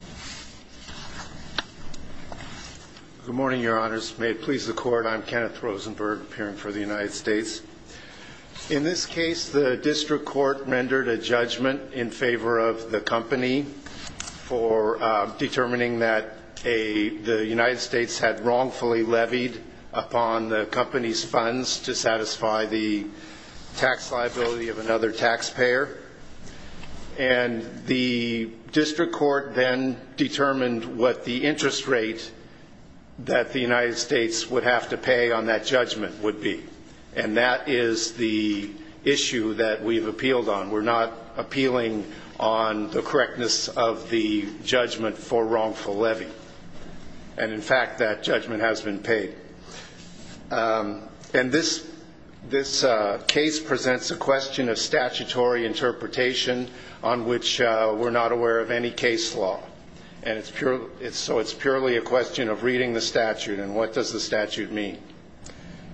District Court Rendered a Judgment in Favor of the Company for Determining that the United States had wrongfully levied upon the company's funds to satisfy the tax liability of another taxpayer. And the district court then determined what the interest rate that the United States would have to pay on that judgment would be. And that is the issue that we've appealed on. We're not appealing on the correctness of the judgment for wrongful levy. And, in fact, that judgment has been paid. And this case presents a question of statutory interpretation on which we're not aware of any case law. And so it's purely a question of reading the statute and what does the statute mean.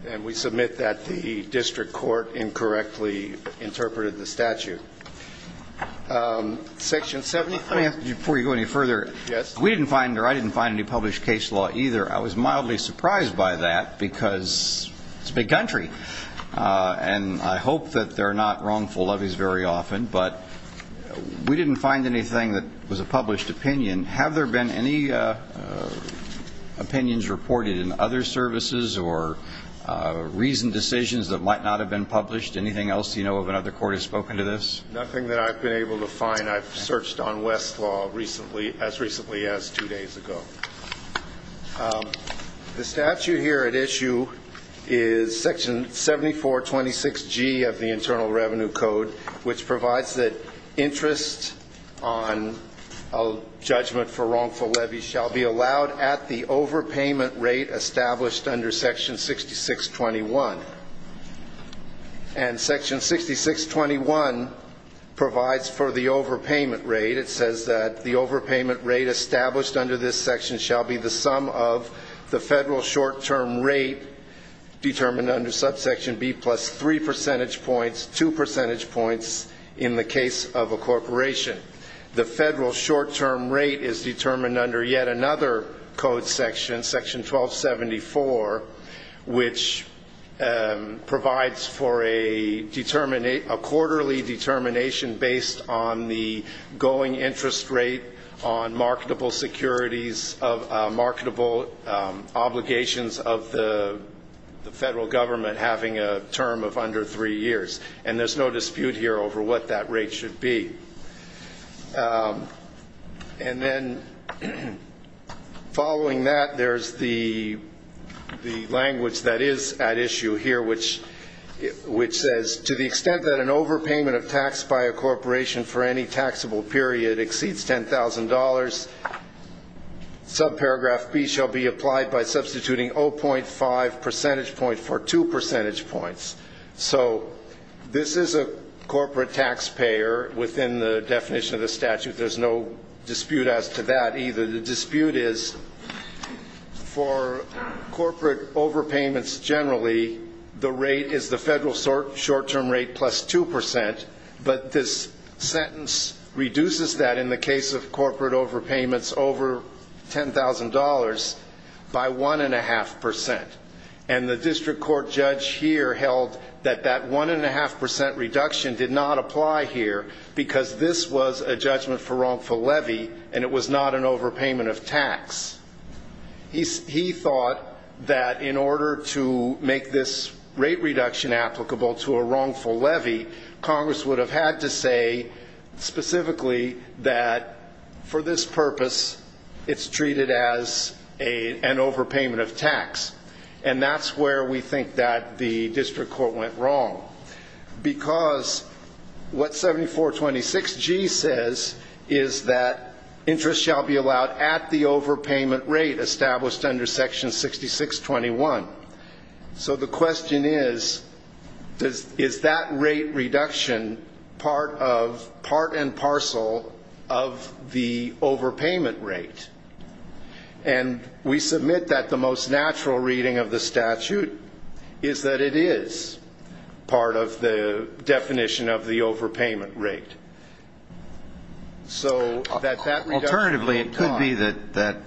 And we submit that the district court incorrectly interpreted the statute. Section 70. Let me ask you before you go any further. Yes. We didn't find or I didn't find any published case law either. I was mildly surprised by that because it's big country. And I hope that they're not wrongful levies very often. But we didn't find anything that was a published opinion. And have there been any opinions reported in other services or reasoned decisions that might not have been published? Anything else you know of another court has spoken to this? Nothing that I've been able to find. I've searched on Westlaw recently, as recently as two days ago. The statute here at issue is Section 7426G of the Internal Revenue Code, which provides that interest on a judgment for wrongful levy shall be allowed at the overpayment rate established under Section 6621. And Section 6621 provides for the overpayment rate. It says that the overpayment rate established under this section shall be the sum of the federal short-term rate determined under subsection B plus three percentage points, two percentage points in the case of a corporation. The federal short-term rate is determined under yet another code section, Section 1274, which provides for a quarterly determination based on the going interest rate on marketable securities, marketable obligations of the federal government having a term of under three years. And there's no dispute here over what that rate should be. And then following that, there's the language that is at issue here, which says to the extent that an overpayment of tax by a corporation for any taxable period exceeds $10,000, subparagraph B shall be applied by substituting 0.5 percentage point for two percentage points. So this is a corporate taxpayer within the definition of the statute. There's no dispute as to that either. The dispute is for corporate overpayments generally, the rate is the federal short-term rate plus 2 percent, but this sentence reduces that in the case of corporate overpayments over $10,000 by 1.5 percent. And the district court judge here held that that 1.5 percent reduction did not apply here because this was a judgment for wrongful levy and it was not an overpayment of tax. He thought that in order to make this rate reduction applicable to a wrongful levy, Congress would have had to say specifically that for this purpose it's treated as an overpayment of tax. And that's where we think that the district court went wrong, because what 7426G says is that interest shall be allowed at the overpayment rate established under Section 6621. So the question is, is that rate reduction part and parcel of the overpayment rate? And we submit that the most natural reading of the statute is that it is part of the definition of the overpayment rate. Alternatively, it could be that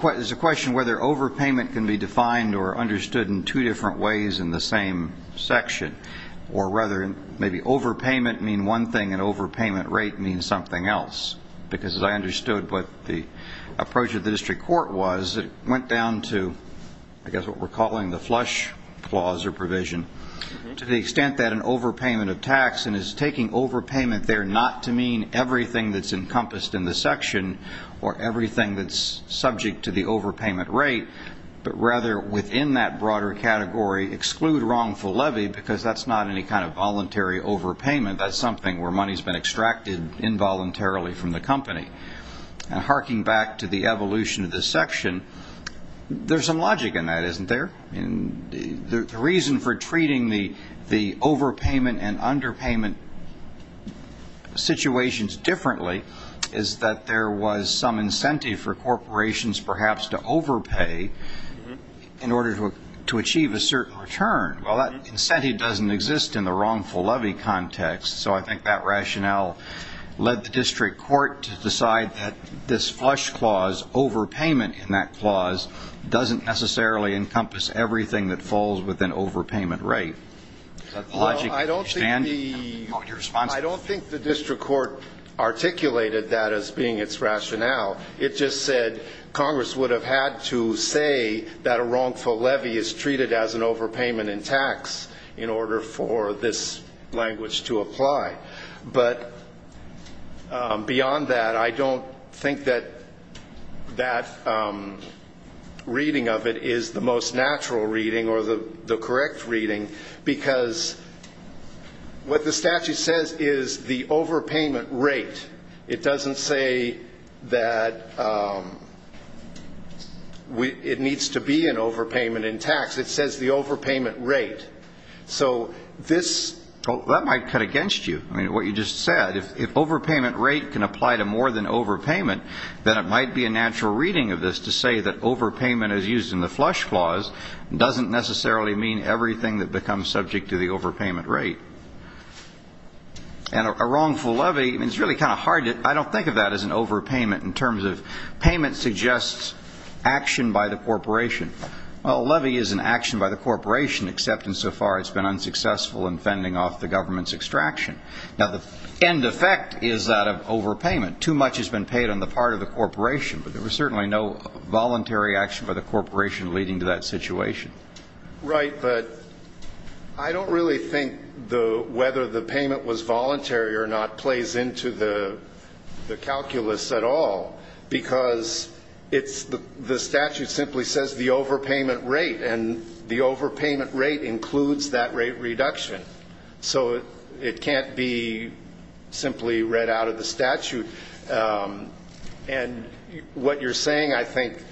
there's a question whether overpayment can be defined or understood in two different ways in the same section, or rather maybe overpayment means one thing and overpayment rate means something else, because as I understood what the approach of the district court was, it went down to I guess what we're calling the flush clause or provision. To the extent that an overpayment of tax is taking overpayment there not to mean everything that's encompassed in the section or everything that's subject to the overpayment rate, but rather within that broader category exclude wrongful levy, because that's not any kind of voluntary overpayment. That's something where money's been extracted involuntarily from the company. And harking back to the evolution of this section, there's some logic in that, isn't there? The reason for treating the overpayment and underpayment situations differently is that there was some incentive for corporations perhaps to overpay in order to achieve a certain return. Well, that incentive doesn't exist in the wrongful levy context, so I think that rationale led the district court to decide that this flush clause, overpayment in that clause doesn't necessarily encompass everything that falls within overpayment rate. Is that the logic you understand? I don't think the district court articulated that as being its rationale. It just said Congress would have had to say that a wrongful levy is treated as an overpayment in tax in order for this language to apply. But beyond that, I don't think that that reading of it is the most natural reading or the correct reading, because what the statute says is the overpayment rate. It doesn't say that it needs to be an overpayment in tax. It says the overpayment rate. So that might cut against you. I mean, what you just said, if overpayment rate can apply to more than overpayment, then it might be a natural reading of this to say that overpayment as used in the flush clause doesn't necessarily mean everything that becomes subject to the overpayment rate. And a wrongful levy, I mean, it's really kind of hard. I don't think of that as an overpayment in terms of payment suggests action by the corporation. Well, a levy is an action by the corporation, except insofar it's been unsuccessful in fending off the government's extraction. Now, the end effect is that of overpayment. Too much has been paid on the part of the corporation, but there was certainly no voluntary action by the corporation leading to that situation. Right, but I don't really think whether the payment was voluntary or not plays into the calculus at all, because the statute simply says the overpayment rate, and the overpayment rate includes that rate reduction. So it can't be simply read out of the statute. And what you're saying, I think,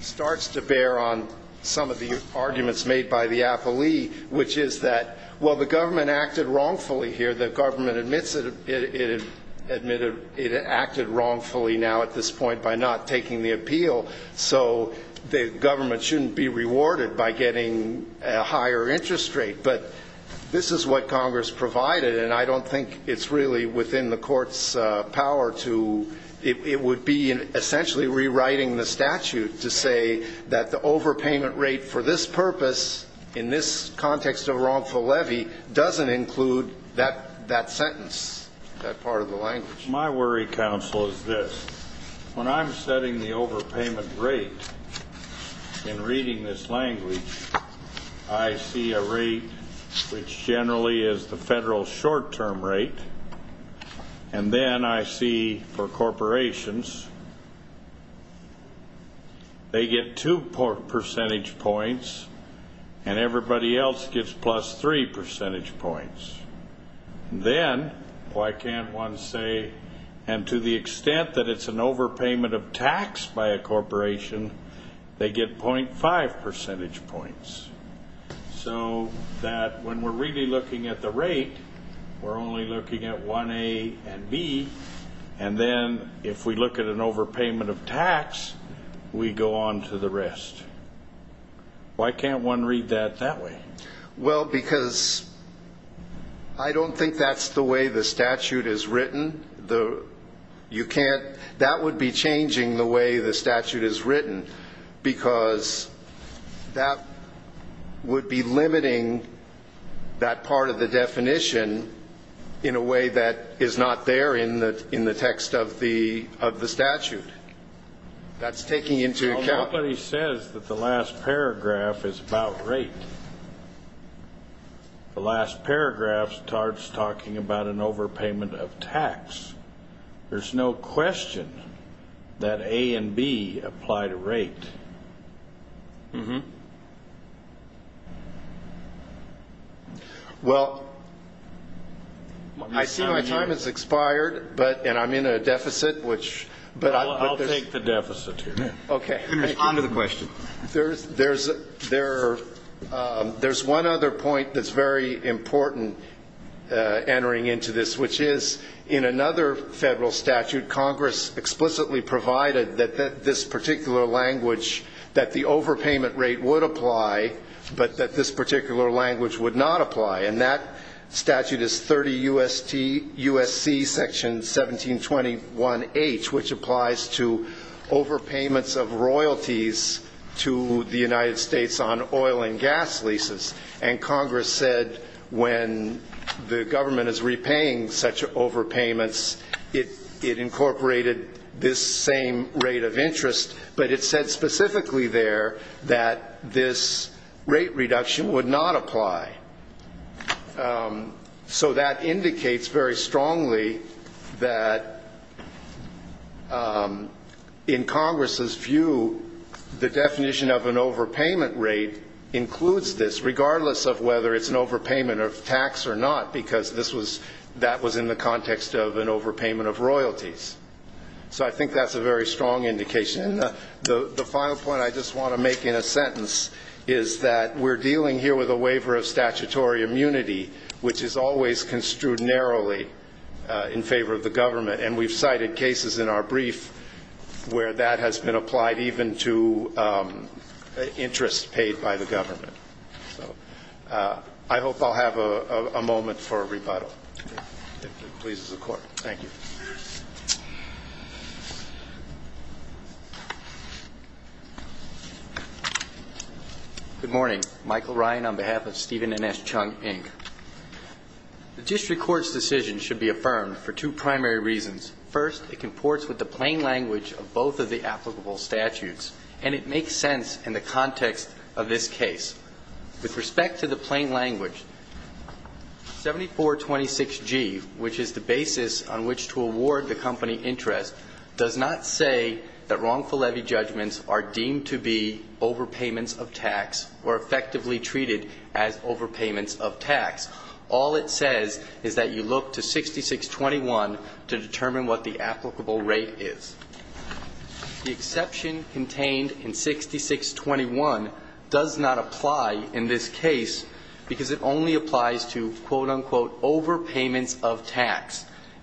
starts to bear on some of the arguments made by the appellee, which is that, well, the government acted wrongfully here. The government admits it acted wrongfully now at this point by not taking the appeal, so the government shouldn't be rewarded by getting a higher interest rate. But this is what Congress provided, and I don't think it's really within the court's power to ‑‑ it would be essentially rewriting the statute to say that the overpayment rate for this purpose, in this context of wrongful levy, doesn't include that sentence, that part of the language. My worry, counsel, is this. When I'm setting the overpayment rate in reading this language, I see a rate which generally is the federal short-term rate, and then I see for corporations they get two percentage points and everybody else gets plus three percentage points. Then why can't one say, and to the extent that it's an overpayment of tax by a corporation, they get .5 percentage points. So that when we're really looking at the rate, we're only looking at 1A and B, and then if we look at an overpayment of tax, we go on to the rest. Why can't one read that that way? Well, because I don't think that's the way the statute is written. You can't ‑‑ that would be changing the way the statute is written because that would be limiting that part of the definition in a way that is not there in the text of the statute. That's taking into account. Nobody says that the last paragraph is about rate. The last paragraph starts talking about an overpayment of tax. There's no question that A and B apply to rate. Well, I see my time has expired, and I'm in a deficit. I'll take the deficit here. Okay. On to the question. There's one other point that's very important entering into this, which is in another federal statute, Congress explicitly provided that this particular language, that the overpayment rate would apply, but that this particular language would not apply. And that statute is 30 U.S.C. Section 1721H, which applies to overpayments of royalties to the United States on oil and gas leases. And Congress said when the government is repaying such overpayments, it incorporated this same rate of interest, but it said specifically there that this rate reduction would not apply. So that indicates very strongly that, in Congress's view, the definition of an overpayment rate includes this, regardless of whether it's an overpayment of tax or not, because that was in the context of an overpayment of royalties. So I think that's a very strong indication. And the final point I just want to make in a sentence is that we're dealing here with a waiver of statutory immunity, which is always construed narrowly in favor of the government. And we've cited cases in our brief where that has been applied even to interest paid by the government. So I hope I'll have a moment for a rebuttal, if it pleases the Court. Thank you. Good morning. Michael Ryan on behalf of Stephen and S. Chung, Inc. The district court's decision should be affirmed for two primary reasons. First, it comports with the plain language of both of the applicable statutes, and it makes sense in the context of this case. With respect to the plain language, 7426G, which is the basis on which to award the company interest, does not say that wrongful levy judgments are deemed to be overpayments of tax or effectively treated as overpayments of tax. All it says is that you look to 6621 to determine what the applicable rate is. The exception contained in 6621 does not apply in this case, because it only applies to, quote, unquote, overpayments of tax. The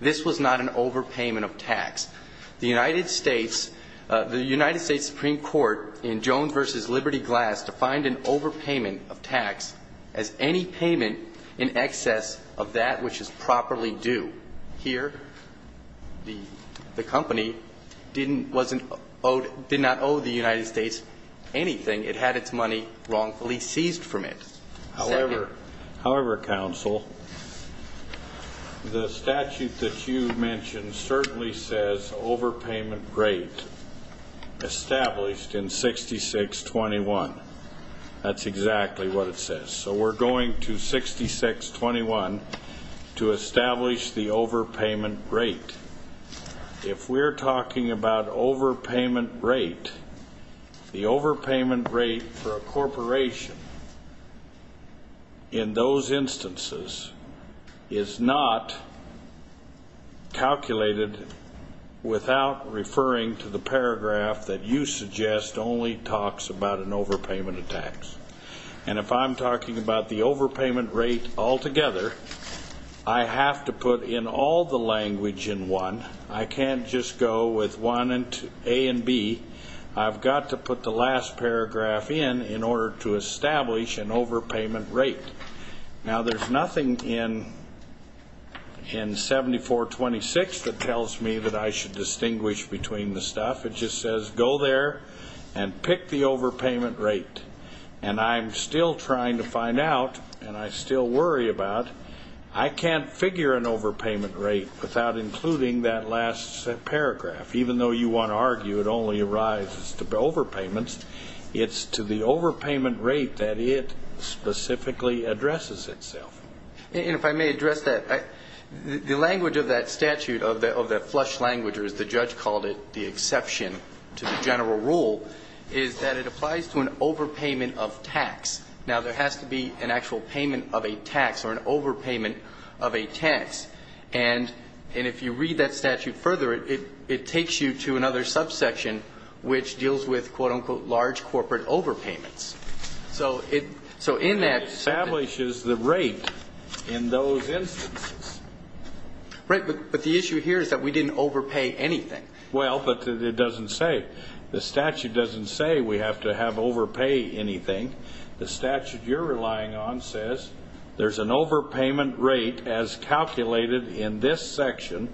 United States Supreme Court in Jones v. Liberty Glass defined an overpayment of tax as any payment in excess of that which is properly due. Here, the company did not owe the United States anything. It had its money wrongfully seized from it. However, counsel, the statute that you mentioned certainly says overpayment rate established in 6621. That's exactly what it says. So we're going to 6621 to establish the overpayment rate. If we're talking about overpayment rate, the overpayment rate for a corporation in those instances is not calculated without referring to the paragraph that you suggest only talks about an overpayment of tax. And if I'm talking about the overpayment rate altogether, I have to put in all the language in one. I can't just go with A and B. I've got to put the last paragraph in in order to establish an overpayment rate. Now, there's nothing in 7426 that tells me that I should distinguish between the stuff. It just says go there and pick the overpayment rate. And I'm still trying to find out, and I still worry about, I can't figure an overpayment rate without including that last paragraph. Even though you want to argue it only arises to overpayments, it's to the overpayment rate that it specifically addresses itself. And if I may address that, the language of that statute, of that flush language, or as the judge called it, the exception to the general rule, is that it applies to an overpayment of tax. Now, there has to be an actual payment of a tax or an overpayment of a tax. And if you read that statute further, it takes you to another subsection, which deals with, quote, unquote, large corporate overpayments. So in that statute ---- It establishes the rate in those instances. Right. But the issue here is that we didn't overpay anything. Well, but it doesn't say. The statute doesn't say we have to have overpay anything. The statute you're relying on says there's an overpayment rate as calculated in this section,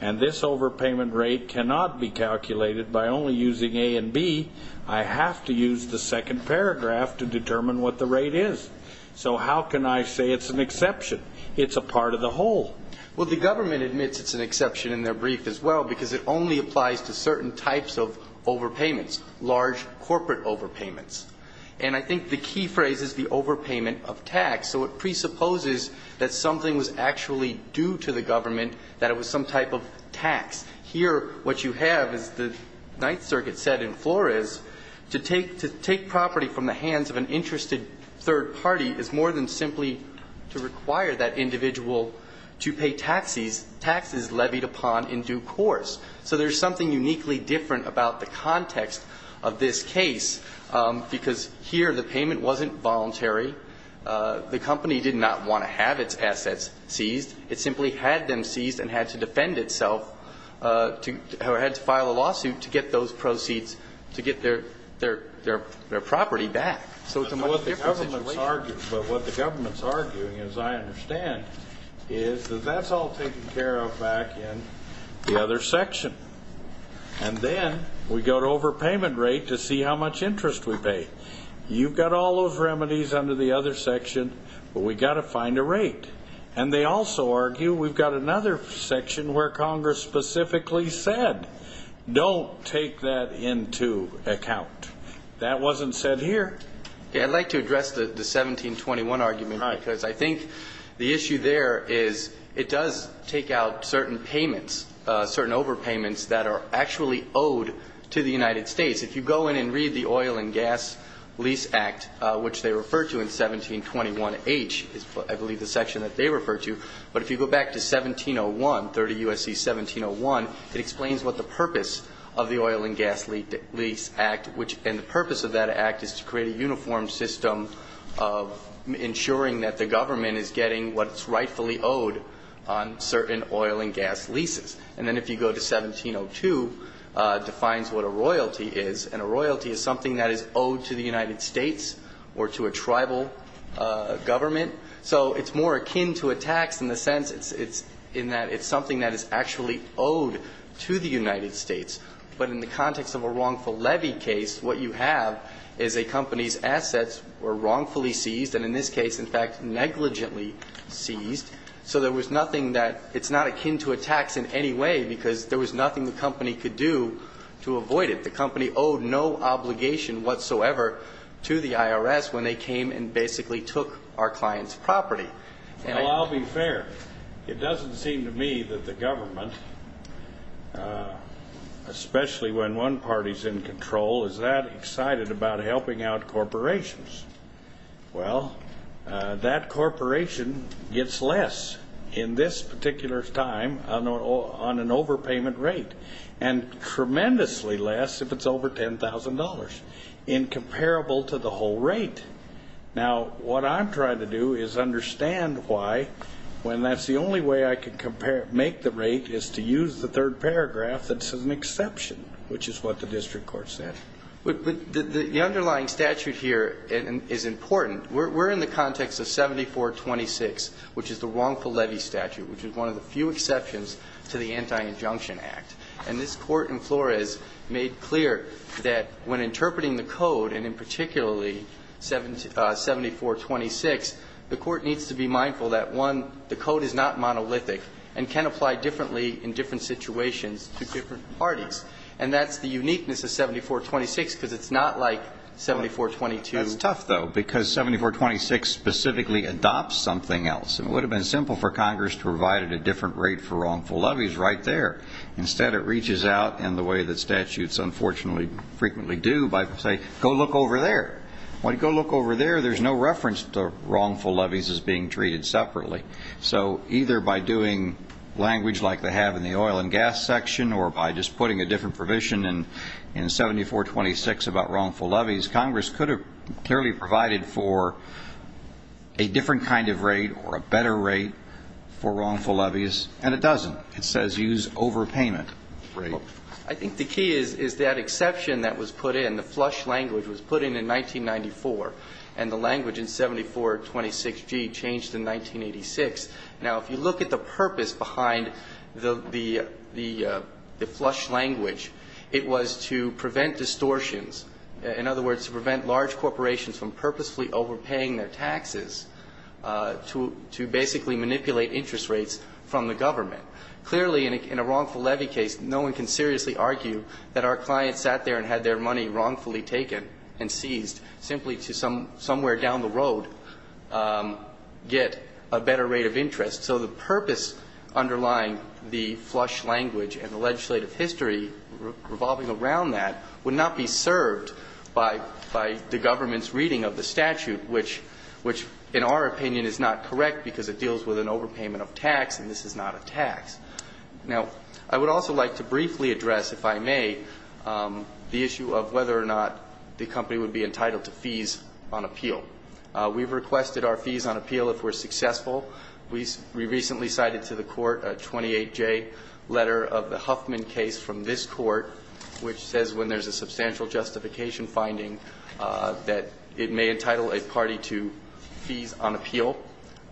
and this overpayment rate cannot be calculated by only using A and B. I have to use the second paragraph to determine what the rate is. So how can I say it's an exception? It's a part of the whole. Well, the government admits it's an exception in their brief as well because it only applies to certain types of overpayments, large corporate overpayments. And I think the key phrase is the overpayment of tax. So it presupposes that something was actually due to the government, that it was some type of tax. Here what you have, as the Ninth Circuit said in Flores, to take property from the hands of an interested third party is more than simply to require that individual to pay taxes, that tax is levied upon in due course. So there's something uniquely different about the context of this case, because here the payment wasn't voluntary. The company did not want to have its assets seized. It simply had them seized and had to defend itself, or had to file a lawsuit to get those proceeds, to get their property back. So it's a much different situation. But what the government's arguing, as I understand, is that that's all taken care of back in the other section. And then we go to overpayment rate to see how much interest we pay. You've got all those remedies under the other section, but we've got to find a rate. And they also argue we've got another section where Congress specifically said don't take that into account. That wasn't said here. I'd like to address the 1721 argument, because I think the issue there is it does take out certain payments, certain overpayments that are actually owed to the United States. If you go in and read the Oil and Gas Lease Act, which they refer to in 1721H is, I believe, the section that they refer to. But if you go back to 1701, 30 U.S.C. 1701, it explains what the purpose of the Oil and Gas Lease Act, and the purpose of that act is to create a uniform system of ensuring that the government is getting what it's rightfully owed on certain oil and gas leases. And then if you go to 1702, it defines what a royalty is, and a royalty is something that is owed to the United States or to a tribal government. So it's more akin to a tax in the sense it's in that it's something that is actually owed to the United States. But in the context of a wrongful levy case, what you have is a company's assets were wrongfully seized, and in this case, in fact, negligently seized. So there was nothing that it's not akin to a tax in any way because there was nothing the company could do to avoid it. The company owed no obligation whatsoever to the IRS when they came and basically took our client's property. Well, I'll be fair. It doesn't seem to me that the government, especially when one party is in control, is that excited about helping out corporations. Well, that corporation gets less in this particular time on an overpayment rate, and tremendously less if it's over $10,000, incomparable to the whole rate. Now, what I'm trying to do is understand why, when that's the only way I can compare, make the rate, is to use the third paragraph that says an exception, which is what the district court said. But the underlying statute here is important. We're in the context of 7426, which is the wrongful levy statute, which is one of the few exceptions to the Anti-Injunction Act. And this Court in Flores made clear that when interpreting the code, and in particularly 7426, the Court needs to be mindful that, one, the code is not monolithic and can apply differently in different situations to different parties. And that's the uniqueness of 7426, because it's not like 7422. That's tough, though, because 7426 specifically adopts something else. It would have been simple for Congress to provide it a different rate for wrongful levies right there. Instead, it reaches out in the way that statutes, unfortunately, frequently do by saying, go look over there. When you go look over there, there's no reference to wrongful levies as being treated separately. So either by doing language like they have in the oil and gas section or by just putting a different provision in 7426 about wrongful levies, Congress could have clearly provided for a different kind of rate or a better rate for wrongful levies, and it doesn't. It says use overpayment rate. I think the key is that exception that was put in, the flush language was put in in 1994, and the language in 7426G changed in 1986. Now, if you look at the purpose behind the flush language, it was to prevent distortions, in other words, to prevent large corporations from purposefully overpaying their taxes to basically manipulate interest rates from the government. Clearly, in a wrongful levy case, no one can seriously argue that our client sat there and had their money wrongfully taken and seized simply to somewhere down the road get a better rate of interest. So the purpose underlying the flush language and the legislative history revolving around that would not be served by the government's reading of the statute, which in our opinion is not correct because it deals with an overpayment of tax and this is not a tax. Now, I would also like to briefly address, if I may, the issue of whether or not the company would be entitled to fees on appeal. We've requested our fees on appeal if we're successful. We recently cited to the court a 28J letter of the Huffman case from this court, which says when there's a substantial justification finding that it may entitle a party to fees on appeal,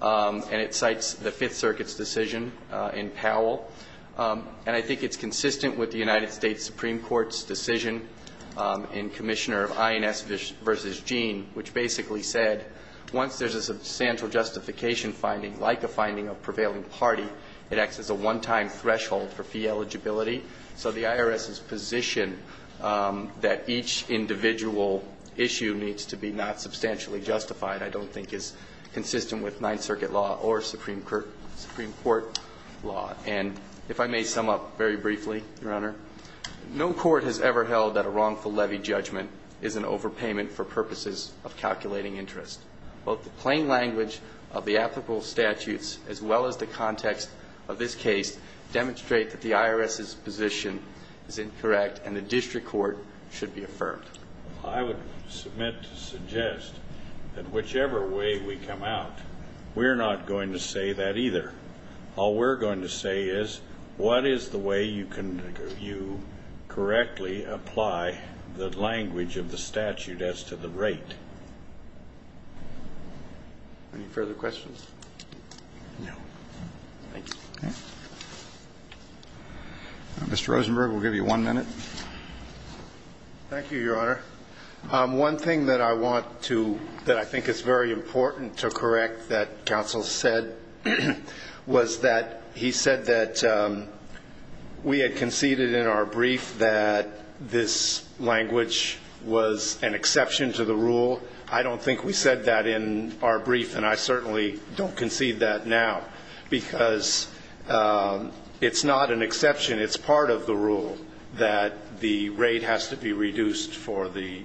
and it cites the Fifth Circuit's decision in Powell. And I think it's consistent with the United States Supreme Court's decision in Commissioner of INS v. Gene, which basically said once there's a substantial justification finding, like a finding of prevailing party, it acts as a one-time threshold for fee eligibility. So the IRS's position that each individual issue needs to be not substantially justified I don't think is consistent with Ninth Circuit law or Supreme Court law. And if I may sum up very briefly, Your Honor, no court has ever held that a wrongful levy judgment is an overpayment for purposes of calculating interest. Both the plain language of the applicable statutes as well as the context of this case demonstrate that the IRS's position is incorrect and the district court should be affirmed. I would submit to suggest that whichever way we come out, we're not going to say that either. All we're going to say is, what is the way you correctly apply the language of the statute as to the rate? Any further questions? No. Thank you. Mr. Rosenberg, we'll give you one minute. Thank you, Your Honor. One thing that I think is very important to correct that counsel said was that he said that we had conceded in our brief that this language was an exception to the rule. I don't think we said that in our brief, and I certainly don't concede that now because it's not an exception. It's part of the rule that the rate has to be reduced for the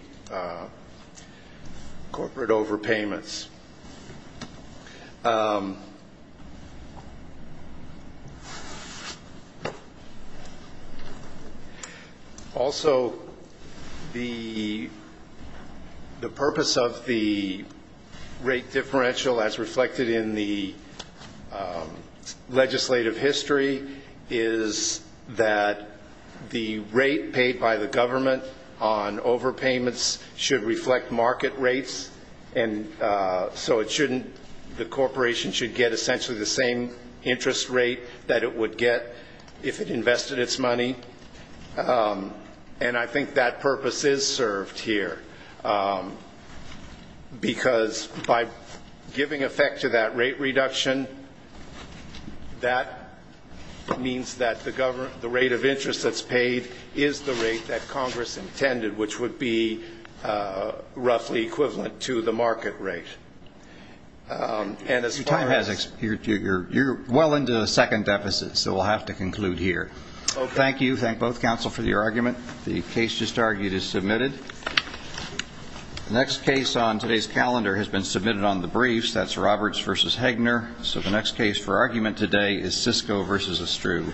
corporate overpayments. Also, the purpose of the rate differential as reflected in the legislative history is that the rate paid by the government on overpayments should reflect market rates, and so the corporation should get essentially the same interest rate that it would get if it invested its money, and I think that purpose is served here because by giving effect to that rate reduction, that means that the rate of interest that's paid is the rate that Congress intended, which would be roughly equivalent to the market rate. You're well into the second deficit, so we'll have to conclude here. Thank both counsel for your argument. The case just argued is submitted. The next case on today's calendar has been submitted on the briefs. That's Roberts v. Hegner, so the next case for argument today is Sisko v. Estrue.